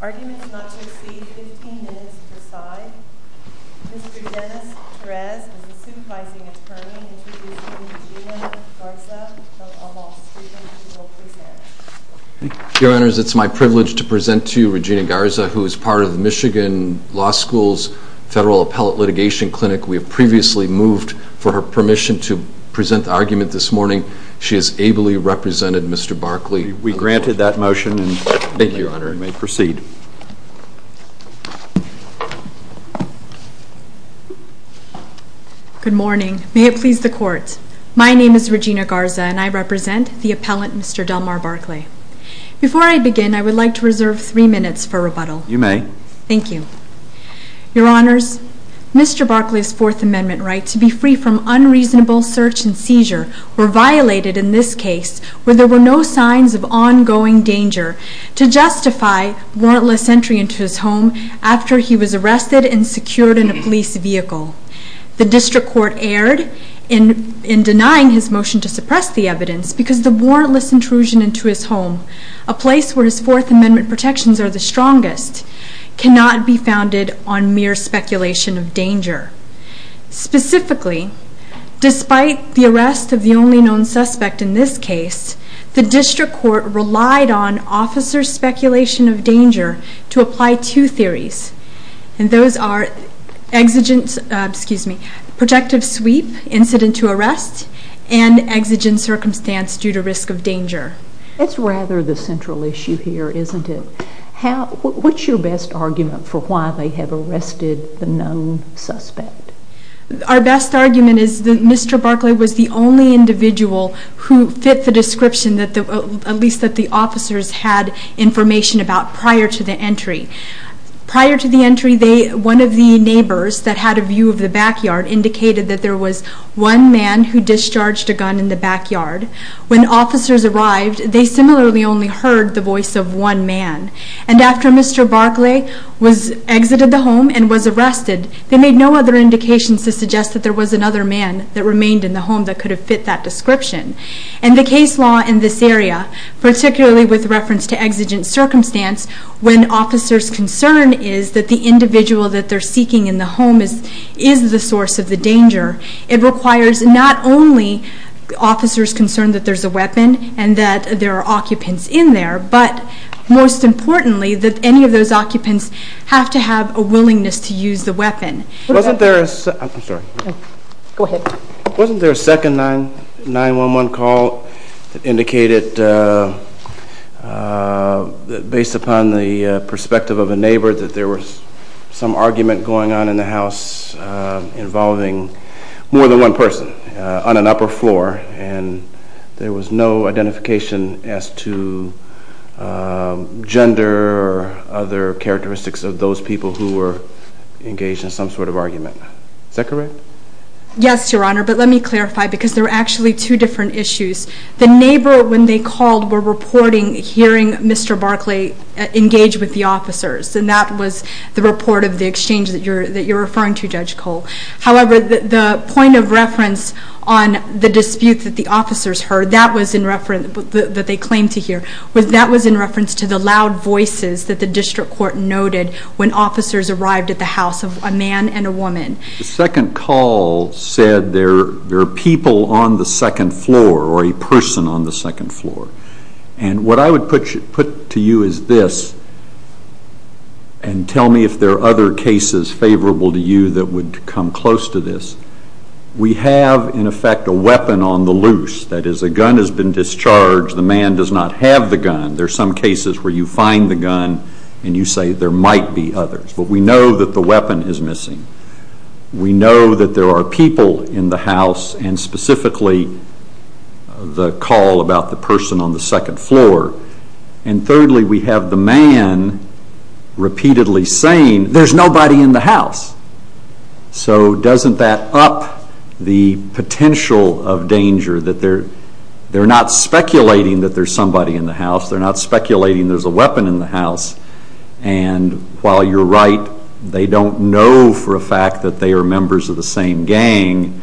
arguments not to exceed 15 minutes per side. Mr. Dennis Perez is a supervising attorney introducing Regina Garza, a law student who will present. Your Honors, it's my privilege to present to you Regina Garza, who is part of the Michigan Law School's Federal Appellate Litigation Clinic. We have previously moved for her permission to present the argument this morning. She has ably represented Mr. Barclay. We granted that motion. Thank you, Your Honor. You may proceed. Good morning. May it please the Court. My name is Regina Garza and I represent the appellant Mr. Delmar Barclay. Before I begin, I would like to reserve three minutes for rebuttal. You may. Thank you. Your Honors, Mr. Barclay's Fourth Amendment rights to be free from unreasonable search and seizure were violated in this case where there were no signs of ongoing danger to justify warrantless entry into his home after he was arrested and secured in a police vehicle. The District Court erred in denying his motion to suppress the evidence because of the warrantless intrusion into his home, a place where his Fourth Amendment protections are the strongest, cannot be founded on mere speculation of danger. Specifically, despite the arrest of the only known suspect in this case, the District Court relied on officer speculation of danger to apply two theories. Those are protective sweep, incident to arrest, and exigent circumstance due to risk of danger. It's rather the central issue here, isn't it? What's your best argument for why they have arrested the known suspect? Our best argument is that Mr. Barclay was the only individual who fit the description that at least that the officers had information about prior to the entry. Prior to the entry, one of the neighbors that had a view of the backyard indicated that there was one man who discharged a gun in the backyard. When officers arrived, they similarly only heard the voice of one man. And after Mr. Barclay exited the home and was arrested, they made no other indications to suggest that there was another man that remained in the home that could have fit that description. And the case law in this area, particularly with reference to exigent circumstance, when officers' concern is that the individual that they're seeking in the home is the source of the danger, it requires not only officers' concern that there's a weapon and that there are occupants in there, but most importantly that any of those occupants have to have a willingness to use the weapon. Wasn't there a second 9-1-1 call that indicated, based upon the perspective of a neighbor, that there was some argument going on in the house involving more than one person on an upper floor and there was no identification as to gender or other characteristics of those people who were engaged in some sort of argument? Is that correct? Yes, Your Honor, but let me clarify because there were actually two different issues. The neighbor, when they called, were reporting hearing Mr. Barclay engage with the officers and that was the report of the exchange that you're referring to, Judge Cole. However, the point of reference on the dispute that the officers heard, that was in reference that they claimed to hear, that was in reference to the loud voices that the district court noted when officers arrived at the house of a man and a woman. The second call said there are people on the second floor or a person on the second floor. And what I would put to you is this, and tell me if there are other cases favorable to you that would come close to this. We have, in effect, a weapon on the loose. That is, a gun has been discharged. The man does not have the gun. There are some cases where you find the gun and you say there might be others. But we know that the weapon is missing. We know that there are people in the house and specifically the call about the person on the second floor. And thirdly, we have the man repeatedly saying, there's nobody in the house. So doesn't that up the potential of danger that they're not speculating that there's somebody in the house. They're not speculating there's a weapon in the house. And while you're right, they don't know for a fact that they are members of the same gang,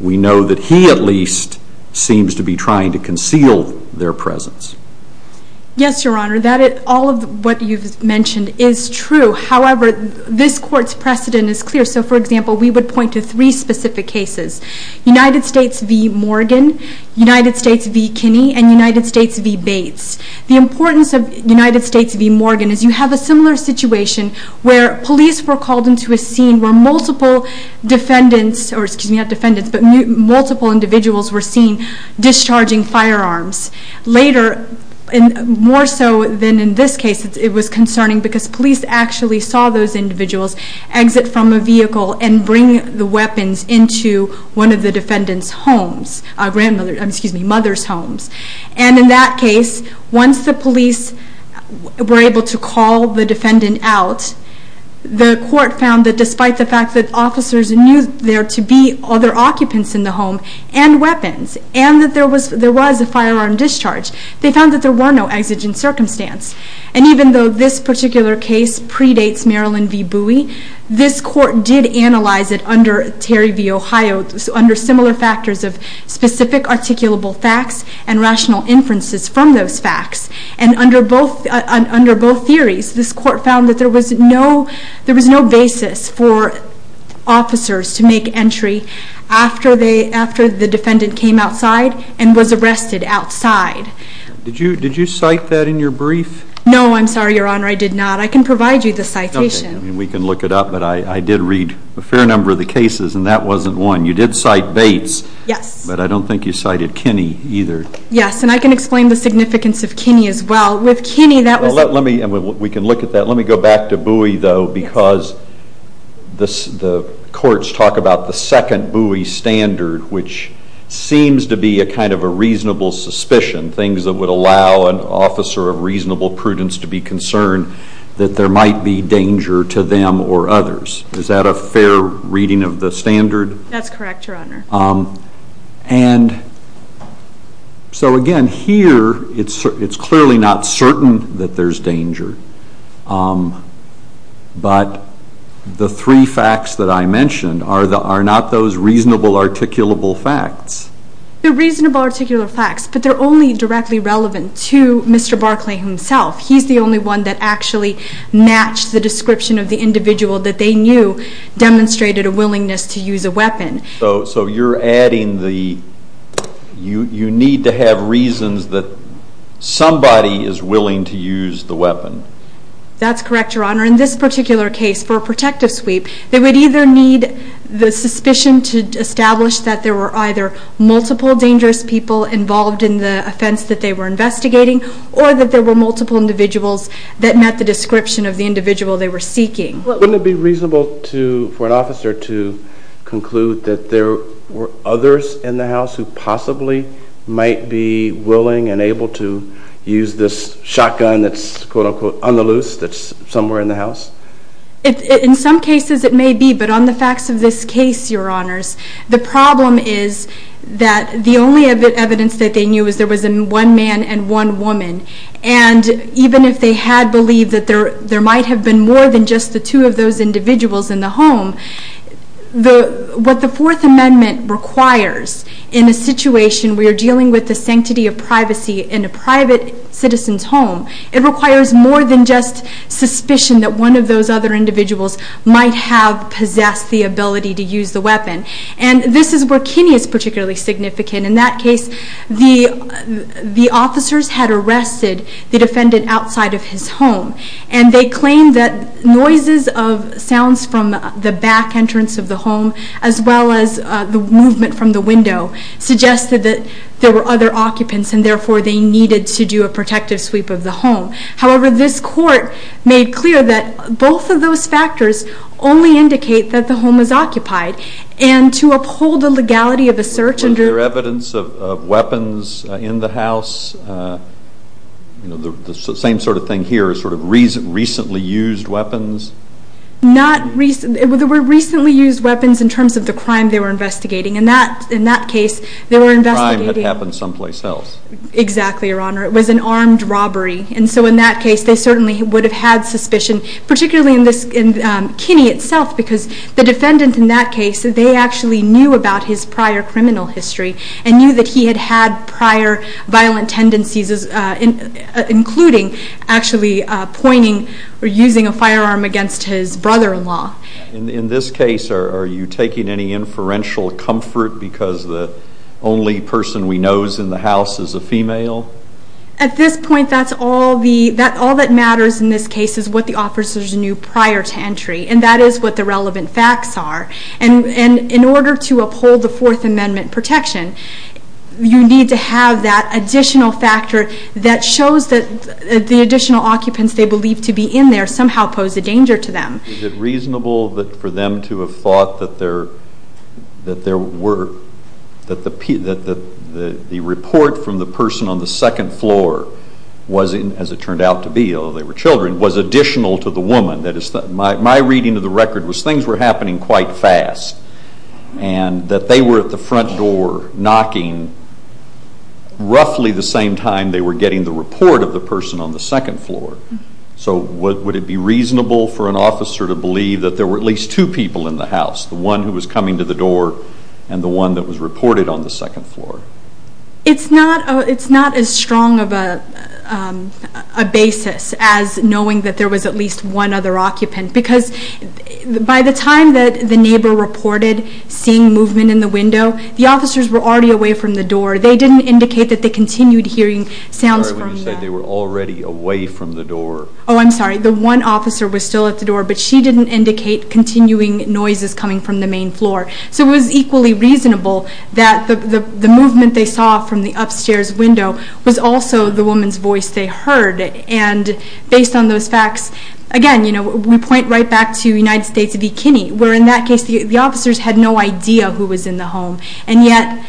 we know that he at least seems to be trying to conceal their presence. Yes, Your Honor, all of what you've mentioned is true. However, this court's precedent is clear. So for example, we would point to three specific cases. United States v. Morgan, United States v. Kinney, and United States v. Bates. The importance of United States v. Morgan is you have a similar situation where police were called into a scene where multiple defendants, or excuse me, not defendants, but multiple individuals were seen discharging firearms. Later, more so than in this case, it was concerning because police actually saw those individuals exit from a vehicle and bring the weapons into one of the defendant's homes, grandmother, excuse me, mother's homes. And in that case, once the police were able to call the defendant out, the court found that despite the fact that officers knew there to be other occupants in the home and weapons, and that there was a firearm discharge, they found that there were no exigent circumstance. And even though this particular case predates Marilyn v. Bowie, this court did analyze it under Terry v. Ohio, under similar factors of specific articulable facts and rational inferences from those facts. And under both theories, this court found that there was no basis for officers to make entry after the defendant came outside and was arrested outside. Did you cite that in your brief? No, I'm sorry, your honor, I did not. I can provide you the citation. We can look it up, but I did read a fair number of the cases, and that wasn't one. You did cite Bates, but I don't think you cited Kinney either. Yes, and I can explain the significance of Kinney as well. With Kinney, that was- Let me, we can look at that. Let me go back to Bowie, though, because the courts talk about the second Bowie standard, which seems to be a kind of a reasonable suspicion, things that would allow an officer of reasonable prudence to be concerned that there might be danger to them or others. Is that a fair reading of the standard? That's correct, your honor. And so again, here, it's clearly not certain that there's danger. But the three facts that I mentioned are not those reasonable, articulable facts. They're reasonable, articulable facts, but they're only directly relevant to Mr. Barclay himself. He's the only one that actually matched the description of the individual that they knew demonstrated a willingness to use a weapon. So you're adding the, you need to have reasons that somebody is willing to use the weapon. That's correct, your honor. In this particular case, for a protective sweep, they would either need the suspicion to establish that there were either multiple dangerous people involved in the offense that they were investigating, or that there were multiple individuals that met the description of the individual they were seeking. Wouldn't it be reasonable for an officer to conclude that there were others in the house who possibly might be willing and able to use this shotgun that's, quote, unquote, on the loose, that's somewhere in the house? In some cases, it may be, but on the facts of this case, your honors, the problem is that the only evidence that they knew is there was one man and one woman. And even if they had believed that there might have been more than just the two of those individuals in the home, what the Fourth Amendment requires in a situation where you're dealing with the sanctity of privacy in a private citizen's home, it requires more than just suspicion that one of those other individuals might have possessed the ability to use the weapon. And this is where Kinney is particularly significant. In that case, the officers had arrested the defendant outside of his home. And they claimed that noises of sounds from the back entrance of the home, as well as the movement from the window, suggested that there were other occupants. And therefore, they needed to do a protective sweep of the home. However, this court made clear that both of those factors only indicate that the home is occupied. And to uphold the legality of the search under- Were there evidence of weapons in the house? The same sort of thing here, sort of recently used weapons? Not recently, there were recently used weapons in terms of the crime they were investigating. In that case, they were investigating- Crime that happened someplace else. Exactly, your honor. It was an armed robbery. And so in that case, they certainly would have had suspicion, particularly in Kinney itself. Because the defendant in that case, they actually knew about his prior criminal history. And knew that he had had prior violent tendencies, including actually pointing or using a firearm against his brother-in-law. In this case, are you taking any inferential comfort because the only person we know is in the house is a female? At this point, all that matters in this case is what the officers knew prior to entry. And that is what the relevant facts are. And in order to uphold the Fourth Amendment protection, you need to have that additional factor that shows that the additional occupants they believe to be in there somehow pose a danger to them. Is it reasonable for them to have thought that the report from the person on the second floor was, as it turned out to be, although they were children, was additional to the woman? That is, my reading of the record was things were happening quite fast. And that they were at the front door knocking roughly the same time they were getting the report of the person on the second floor. So would it be reasonable for an officer to believe that there were at least two people in the house? The one who was coming to the door and the one that was reported on the second floor? It's not as strong of a basis as knowing that there was at least one other occupant. Because by the time that the neighbor reported seeing movement in the window, the officers were already away from the door. They didn't indicate that they continued hearing sounds from the door. They were already away from the door. Oh, I'm sorry. The one officer was still at the door, but she didn't indicate continuing noises coming from the main floor. So it was equally reasonable that the movement they saw from the upstairs window was also the woman's voice they heard. And based on those facts, again, you know, we point right back to United States v. Kinney, where in that case the officers had no idea who was in the home. And yet,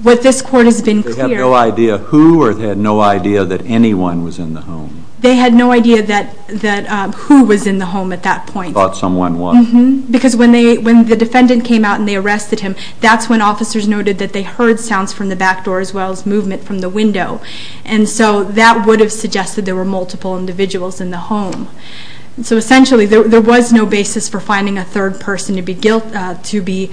what this court has been clear. They had no idea who or they had no idea that anyone was in the home? They had no idea that who was in the home at that point. Thought someone was. Because when the defendant came out and they arrested him, that's when officers noted that they heard sounds from the back door as well as movement from the window. And so that would have suggested there were multiple individuals in the home. So essentially, there was no basis for finding a third person to be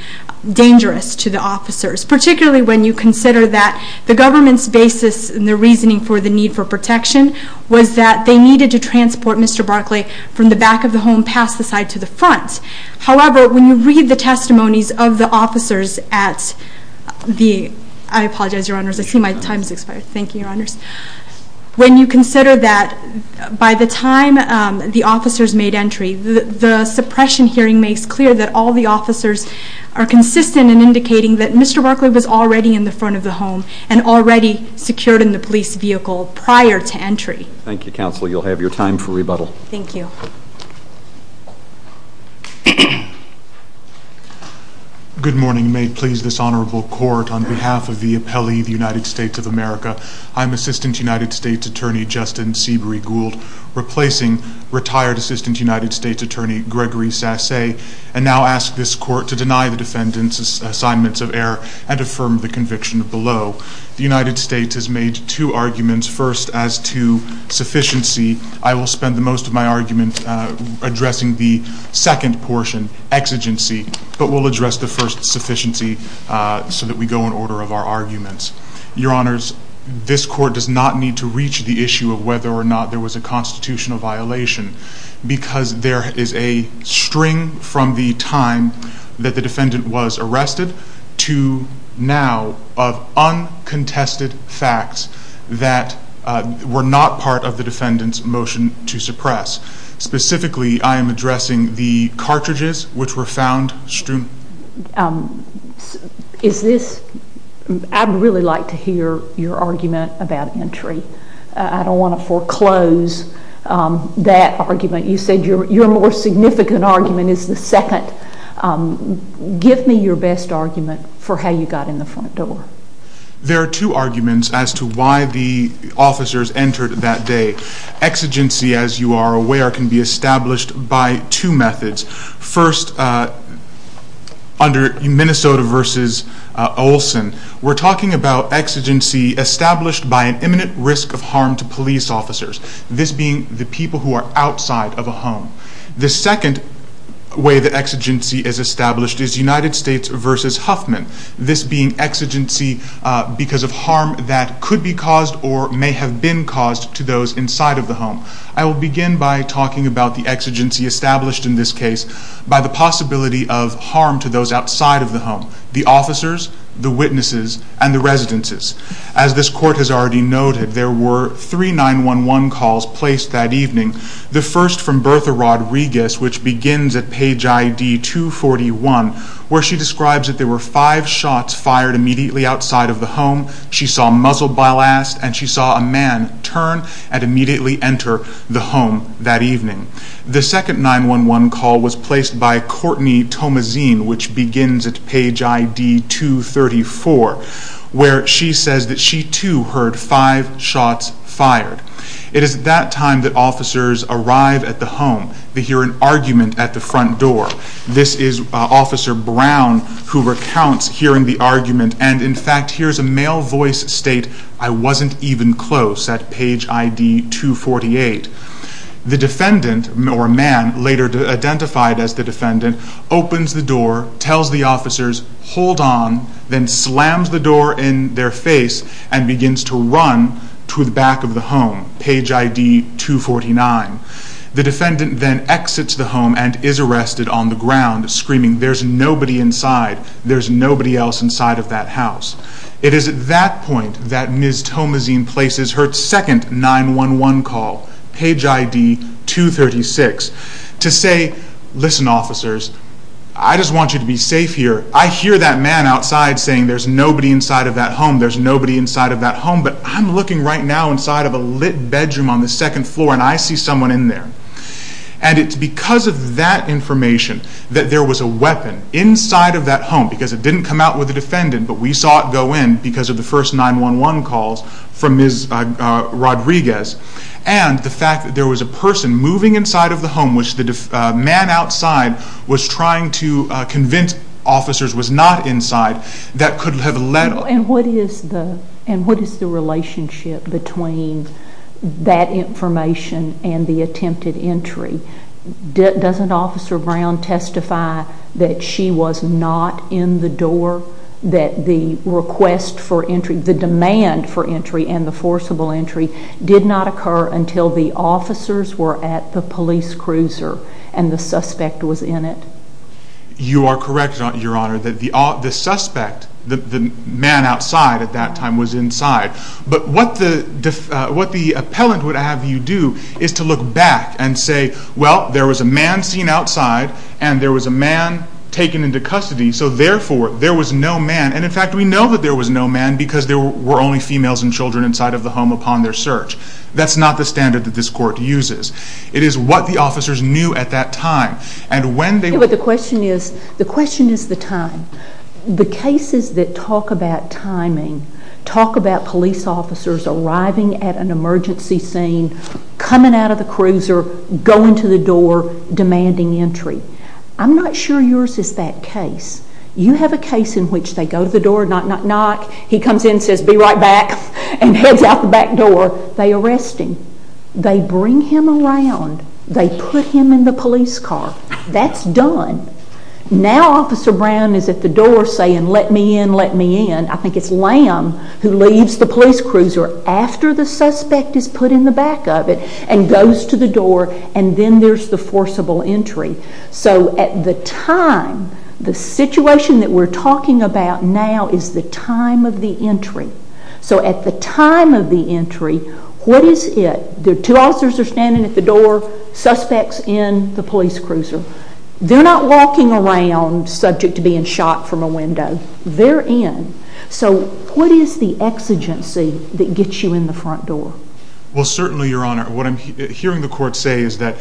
dangerous to the officers. Particularly when you consider that the government's basis and the reasoning for the need for protection was that they needed to transport Mr. Barclay from the back of the home past the side to the front. However, when you read the testimonies of the officers at the, I apologize, your honors, I see my time's expired. Thank you, your honors. When you consider that by the time the officers made entry, the suppression hearing makes clear that all the officers are consistent in indicating that Mr. Barclay was in the police vehicle prior to entry. Thank you, counsel. You'll have your time for rebuttal. Thank you. Good morning. May it please this honorable court on behalf of the appellee of the United States of America. I'm Assistant United States Attorney Justin Seabury Gould, replacing retired Assistant United States Attorney Gregory Sassay. And now ask this court to deny the defendant's assignments of error and affirm the conviction below. The United States has made two arguments, first as to sufficiency. I will spend the most of my argument addressing the second portion, exigency. But we'll address the first, sufficiency, so that we go in order of our arguments. Your honors, this court does not need to reach the issue of whether or not there was a constitutional violation. Because there is a string from the time that the defendant was arrested to now of uncontested facts that were not part of the defendant's motion to suppress. Specifically, I am addressing the cartridges which were found strewn. Is this, I'd really like to hear your argument about entry. I don't want to foreclose that argument. You said your more significant argument is the second. Give me your best argument for how you got in the front door. There are two arguments as to why the officers entered that day. Exigency, as you are aware, can be established by two methods. First, under Minnesota versus Olson, we're talking about exigency established by an imminent risk of harm to police officers. This being the people who are outside of a home. The second way the exigency is established is United States versus Huffman. This being exigency because of harm that could be caused or may have been caused to those inside of the home. I will begin by talking about the exigency established in this case by the possibility of harm to those outside of the home. The officers, the witnesses, and the residences. As this court has already noted, there were three 911 calls placed that evening. The first from Bertha Rodriguez, which begins at page ID 241, where she describes that there were five shots fired immediately outside of the home. She saw muzzled by last, and she saw a man turn and immediately enter the home that evening. The second 911 call was placed by Courtney Tomazine, which begins at page ID 234. Where she says that she too heard five shots fired. It is at that time that officers arrive at the home. They hear an argument at the front door. This is Officer Brown, who recounts hearing the argument. And in fact, hears a male voice state, I wasn't even close, at page ID 248. The defendant, or man, later identified as the defendant, opens the door, tells the officers, hold on, then slams the door in their face and begins to run to the back of the home, page ID 249. The defendant then exits the home and is arrested on the ground, screaming there's nobody inside, there's nobody else inside of that house. It is at that point that Ms. Tomazine places her second 911 call, page ID 236, to say, listen officers, I just want you to be safe here. I hear that man outside saying there's nobody inside of that home, there's nobody inside of that home, but I'm looking right now inside of a lit bedroom on the second floor and I see someone in there. And it's because of that information that there was a weapon inside of that home, because it didn't come out with the defendant, but we saw it go in because of the first 911 calls from Ms. Rodriguez. And the fact that there was a person moving inside of the home, which the man outside was trying to convince officers was not inside, that could have led... And what is the relationship between that information and the attempted entry? Doesn't Officer Brown testify that she was not in the door, that the request for entry, the demand for entry and the forcible entry did not occur until the officers were at the police cruiser and the suspect was in it? You are correct, Your Honor, that the suspect, the man outside at that time was inside. But what the appellant would have you do is to look back and say, well, there was a man seen outside and there was a man taken into custody, so therefore there was no man. And in fact, we know that there was no man because there were only females and children inside of the home upon their search. That's not the standard that this court uses. It is what the officers knew at that time. And when they... But the question is, the question is the time. The cases that talk about timing, talk about police officers arriving at an emergency scene, coming out of the cruiser, going to the door, demanding entry. I'm not sure yours is that case. You have a case in which they go to the door, knock, knock, knock. He comes in and says, be right back, and heads out the back door. They arrest him. They bring him around. They put him in the police car. That's done. Now Officer Brown is at the door saying, let me in, let me in. I think it's Lamb who leaves the police cruiser after the suspect is put in the back of it and goes to the door and then there's the forcible entry. So at the time, the situation that we're talking about now is the time of the entry. So at the time of the entry, what is it? The two officers are standing at the door, suspects in the police cruiser. They're not walking around subject to being shot from a window. They're in. So what is the exigency that gets you in the front door? Well, certainly, Your Honor, what I'm hearing the court say is that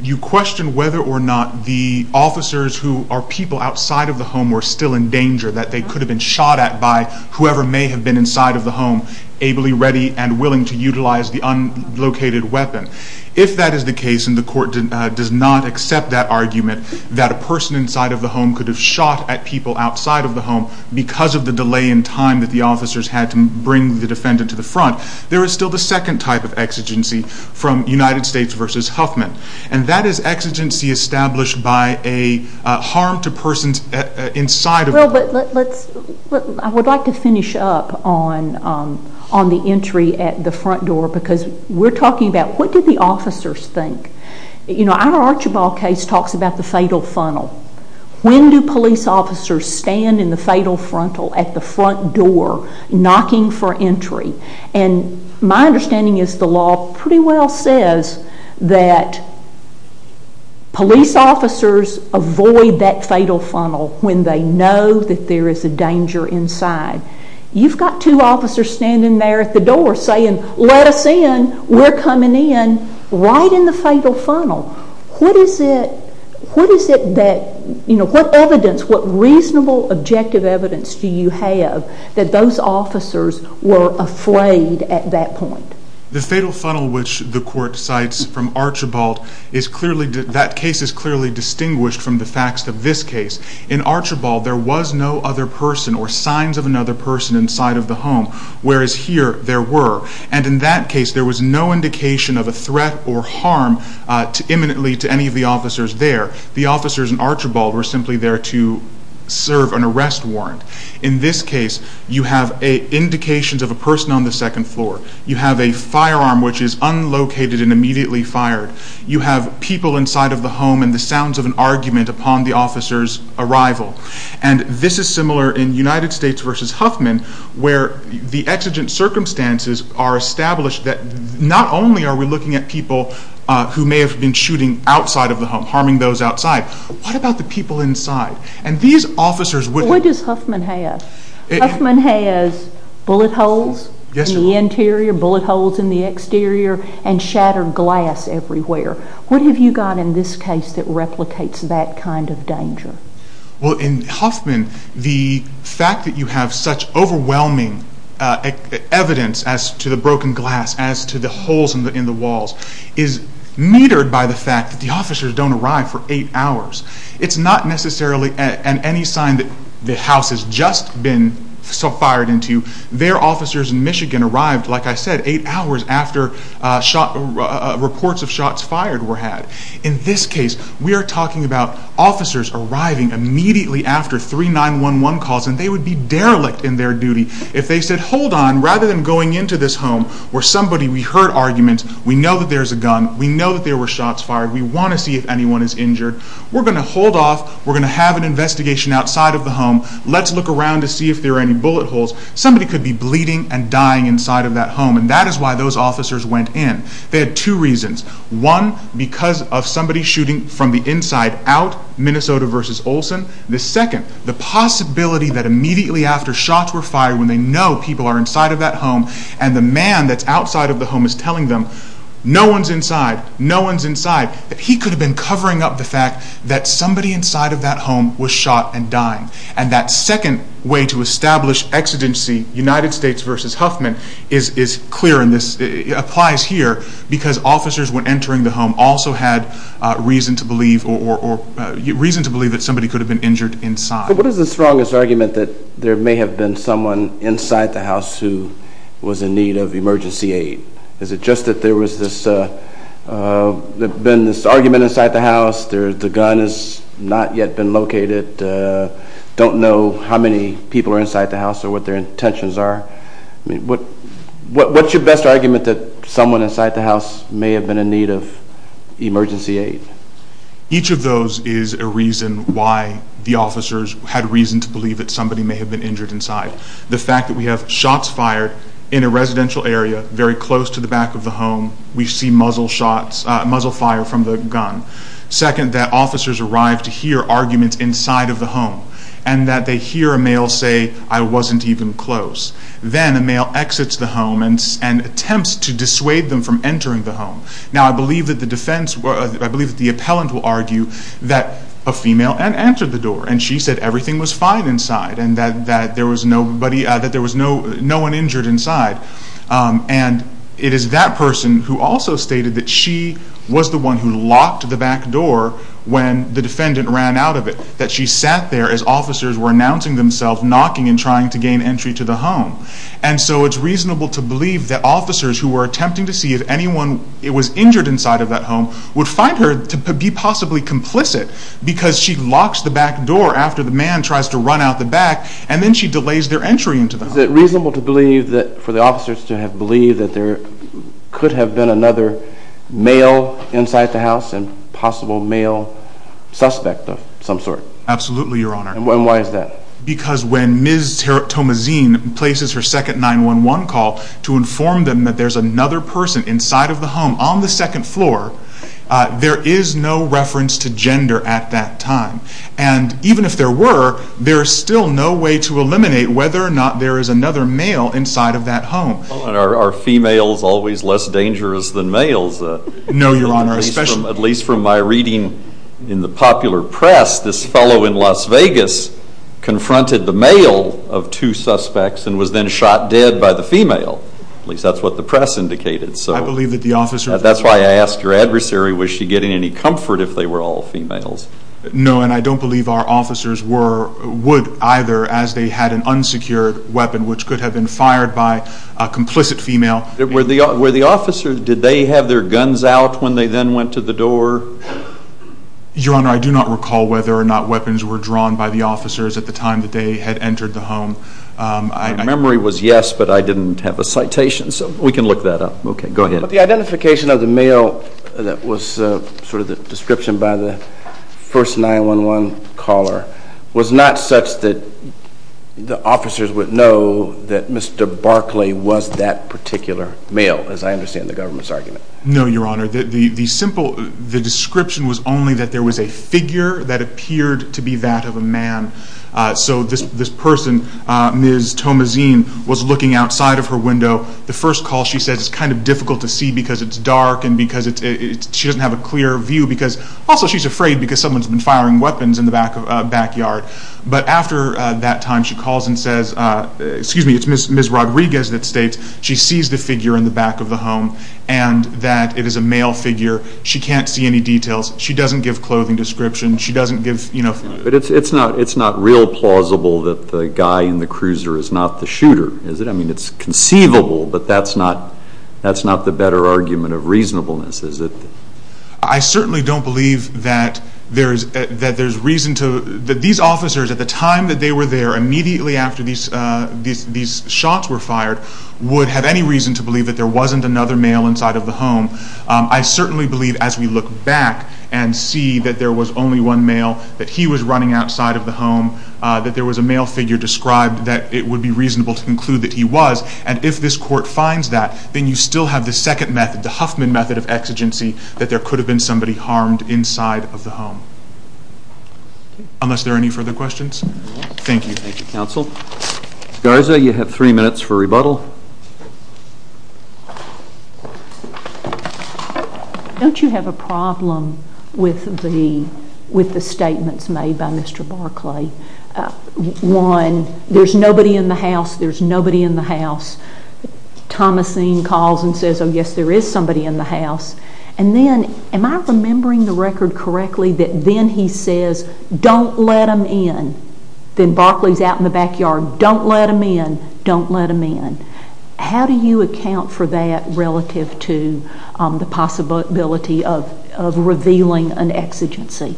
you question whether or not the officers who are people outside of the home were still in danger, that they could have been shot at by whoever may have been inside of the home, ably ready and willing to utilize the unlocated weapon. If that is the case, and the court does not accept that argument, that a person inside of the home could have shot at people outside of the home because of the delay in time that the officers had to bring the defendant to the front, there is still the second type of exigency from United States v. Huffman. And that is exigency established by a harm to persons inside of the home. Well, but let's, I would like to finish up on the entry at the front door because we're talking about what did the officers think? You know, our Archibald case talks about the fatal funnel. When do police officers stand in the fatal frontal at the front door knocking for entry? And my understanding is the law pretty well says that police officers avoid that fatal funnel when they know that there is a danger inside. You've got two officers standing there at the door saying, let us in, we're coming in, right in the fatal funnel. What is it, what is it that, you know, what evidence, what reasonable objective evidence do you have that those officers were afraid at that point? The fatal funnel which the court cites from Archibald is clearly, that case is clearly distinguished from the facts of this case. In Archibald, there was no other person or signs of another person inside of the home, whereas here there were. And in that case, there was no indication of a threat or harm imminently to any of the officers there. The officers in Archibald were simply there to serve an arrest warrant. In this case, you have indications of a person on the second floor. You have a firearm which is unlocated and immediately fired. You have people inside of the home and the sounds of an argument upon the officer's arrival. And this is similar in United States v. Huffman, where the exigent circumstances are established that not only are we looking at people who may have been shooting outside of the home, harming those outside, what about the people inside? And these officers would... What does Huffman have? Huffman has bullet holes in the interior, bullet holes in the exterior, and shattered glass everywhere. What have you got in this case that replicates that kind of danger? Well, in Huffman, the fact that you have such overwhelming evidence as to the broken glass, as to the holes in the walls, is metered by the fact that the officers don't arrive for eight hours. It's not necessarily any sign that the house has just been fired into. Their officers in Michigan arrived, like I said, eight hours after reports of shots fired were had. In this case, we are talking about officers arriving immediately after 3911 calls, and they would be derelict in their duty if they said, hold on, rather than going into this home where somebody... We heard arguments. We know that there's a gun. We know that there were shots fired. We want to see if anyone is injured. We're going to hold off. We're going to have an investigation outside of the home. Let's look around to see if there are any bullet holes. Somebody could be bleeding and dying inside of that home, and that is why those officers went in. They had two reasons. One, because of somebody shooting from the inside out, Minnesota versus Olson. The second, the possibility that immediately after shots were fired, when they know people are inside of that home, and the man that's outside of the home is telling them, no one's inside, no one's inside, that he could have been covering up the fact that somebody inside of that home was shot and dying. And that second way to establish exigency, United States versus Huffman, is clear in this, applies here, because officers, when entering the home, also had reason to believe that somebody could have been injured inside. But what is the strongest argument that there may have been someone inside the house who was in need of emergency aid? Is it just that there was this argument inside the house, the gun has not yet been located? Don't know how many people are inside the house or what their intentions are? I mean, what's your best argument that someone inside the house may have been in need of emergency aid? Each of those is a reason why the officers had reason to believe that somebody may have been injured inside. The fact that we have shots fired in a residential area very close to the back of the home, we see muzzle shots, muzzle fire from the gun. Second, that officers arrive to hear arguments inside of the home, and that they hear a male say, I wasn't even close. Then a male exits the home and attempts to dissuade them from entering the home. Now I believe that the defense, I believe that the appellant will argue that a female entered the door and she said everything was fine inside and that there was nobody, that there was no one injured inside. And it is that person who also stated that she was the one who locked the back door when the defendant ran out of it. That she sat there as officers were announcing themselves, knocking and trying to gain entry to the home. And so it's reasonable to believe that officers who were attempting to see if anyone was injured inside of that home would find her to be possibly complicit because she locks the back door after the man tries to run out the back. Is it reasonable to believe that, for the officers to have believed that there could have been another male inside the house and possible male suspect of some sort? Absolutely, your honor. And why is that? Because when Ms. Tomazine places her second 911 call to inform them that there's another person inside of the home on the second floor, there is no reference to gender at that time. And even if there were, there's still no way to eliminate whether or not there is another male inside of that home. Are females always less dangerous than males? No, your honor. At least from my reading in the popular press, this fellow in Las Vegas confronted the male of two suspects and was then shot dead by the female. At least that's what the press indicated. I believe that the officer... That's why I asked your adversary, was she getting any comfort if they were all females? No, and I don't believe our officers would either as they had an unsecured weapon which could have been fired by a complicit female. Were the officers, did they have their guns out when they then went to the door? Your honor, I do not recall whether or not weapons were drawn by the officers at the time that they had entered the home. My memory was yes, but I didn't have a citation. So we can look that up. Okay, go ahead. But the identification of the male that was sort of the description by the first 911 caller was not such that the officers would know that Mr. Barkley was that particular male as I understand the government's argument. No, your honor. The simple, the description was only that there was a figure that appeared to be that of a man. So this person, Ms. Tomazine, was looking outside of her window. The first call she says it's kind of difficult to see because it's dark and because it's, she doesn't have a clear view because also she's afraid because someone's been firing weapons in the backyard. But after that time she calls and says, excuse me, it's Ms. Rodriguez that states she sees the figure in the back of the home and that it is a male figure. She can't see any details. She doesn't give clothing description. She doesn't give, you know... But it's not real plausible that the guy in the cruiser is not the shooter, is it? I mean, it's conceivable, but that's not the better argument of reasonableness, is it? I certainly don't believe that there's reason to, that these officers at the time that they were there, immediately after these shots were fired, would have any reason to believe that there wasn't another male inside of the home. I certainly believe as we look back and see that there was only one male, that he was running outside of the home, that there was a male figure described, that it would be reasonable to conclude that he was. And if this court finds that, then you still have the second method, the Huffman method of exigency, that there could have been somebody harmed inside of the home. Unless there are any further questions? Thank you. Thank you, counsel. Garza, you have three minutes for rebuttal. Don't you have a problem with the statements made by Mr. Barclay? One, there's nobody in the house, there's nobody in the house. Thomasine calls and says, oh yes, there is somebody in the house. And then, am I remembering the record correctly, that then he says, don't let him in. Then Barclay's out in the backyard, don't let him in, don't let him in. How do you account for that relative to the possibility of revealing an exigency?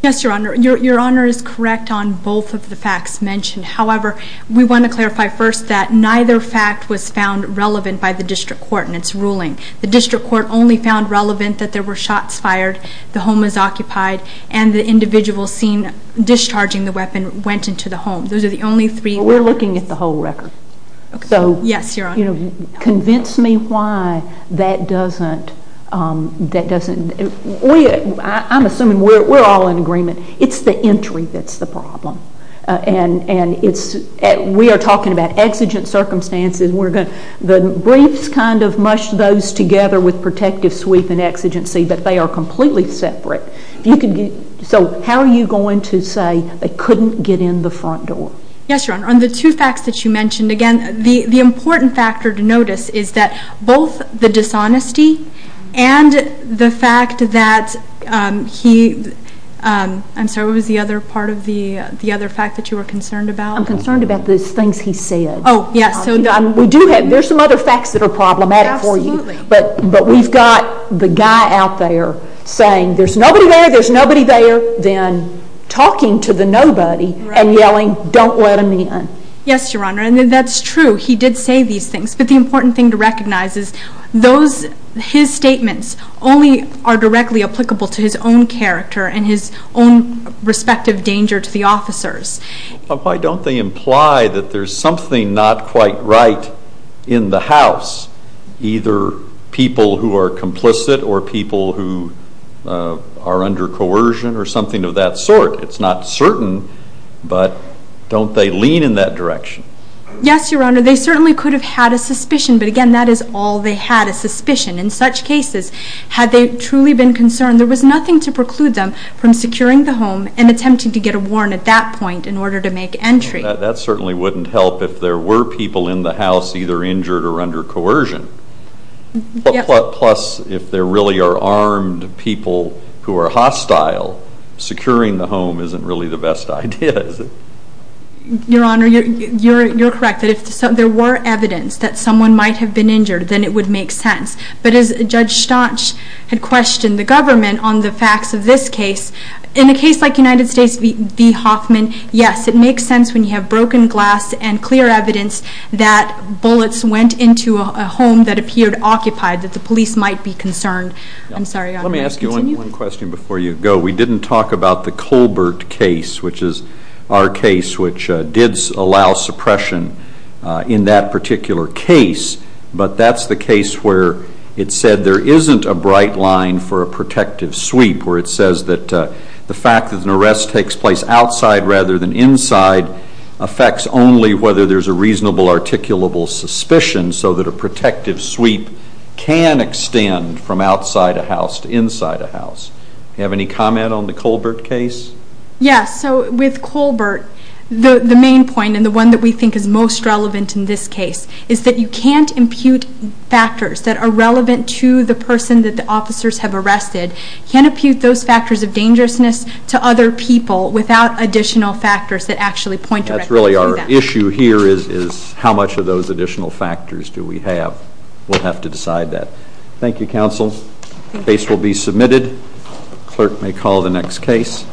Yes, your honor. Your honor is correct on both of the facts mentioned. However, we want to clarify first that neither fact was found relevant by the district court in its ruling. The district court only found relevant that there were shots fired, the home was occupied, and the individual seen discharging the weapon went into the home. Those are the only three. We're looking at the whole record. So, convince me why that doesn't, I'm assuming we're all in agreement. It's the entry that's the problem. We are talking about exigent circumstances. The briefs kind of mush those together with protective sweep and exigency, but they are completely separate. So, how are you going to say they couldn't get in the front door? Yes, your honor. On the two facts that you mentioned, again, the important factor to notice is that both the dishonesty and the fact that he, I'm sorry, what was the other part of the, the other fact that you were concerned about? I'm concerned about the things he said. Oh, yes. We do have, there's some other facts that are problematic for you, but we've got the guy out there saying there's nobody there, there's nobody there, then talking to the nobody and yelling, don't let him in. Yes, your honor. And that's true. He did say these things, but the important thing to recognize is those, his statements only are directly applicable to his own character and his own respective danger to the officers. Why don't they imply that there's something not quite right in the house, either people who are complicit or people who are under coercion or something of that sort? It's not certain, but don't they lean in that direction? Yes, your honor. They certainly could have had a suspicion, but again, that is all they had, a suspicion. In such cases, had they truly been concerned, there was nothing to preclude them from securing the home and attempting to get a warrant at that point in order to make entry. That certainly wouldn't help if there were people in the house either injured or under coercion. Plus, if there really are armed people who are hostile, securing the home isn't really the best idea, is it? Your honor, you're correct that if there were evidence that someone might have been injured, then it would make sense. But as Judge Staunch had questioned the government on the facts of this case, in a case like United States v. Hoffman, yes, it makes sense when you have broken glass and clear evidence that bullets went into a home that appeared occupied, that the police might be concerned. I'm sorry, your honor. Let me ask you one question before you go. We didn't talk about the Colbert case, which is our case, which did allow suppression in that particular case, but that's the case where it said there isn't a bright line for a protective sweep, where it says that the fact that an arrest takes place outside rather than inside affects only whether there's a reasonable articulable suspicion, so that a protective sweep can extend from outside a house to inside a house. Do you have any comment on the Colbert case? Yes. So with Colbert, the main point and the one that we think is most relevant in this case is that you can't impute factors that are relevant to the person that the officers have arrested. You can't impute those factors of dangerousness to other people without additional factors that actually point directly to that. That's really our issue here is how much of those additional factors do we have. We'll have to decide that. Thank you, counsel. Case will be submitted. Clerk may call the next case.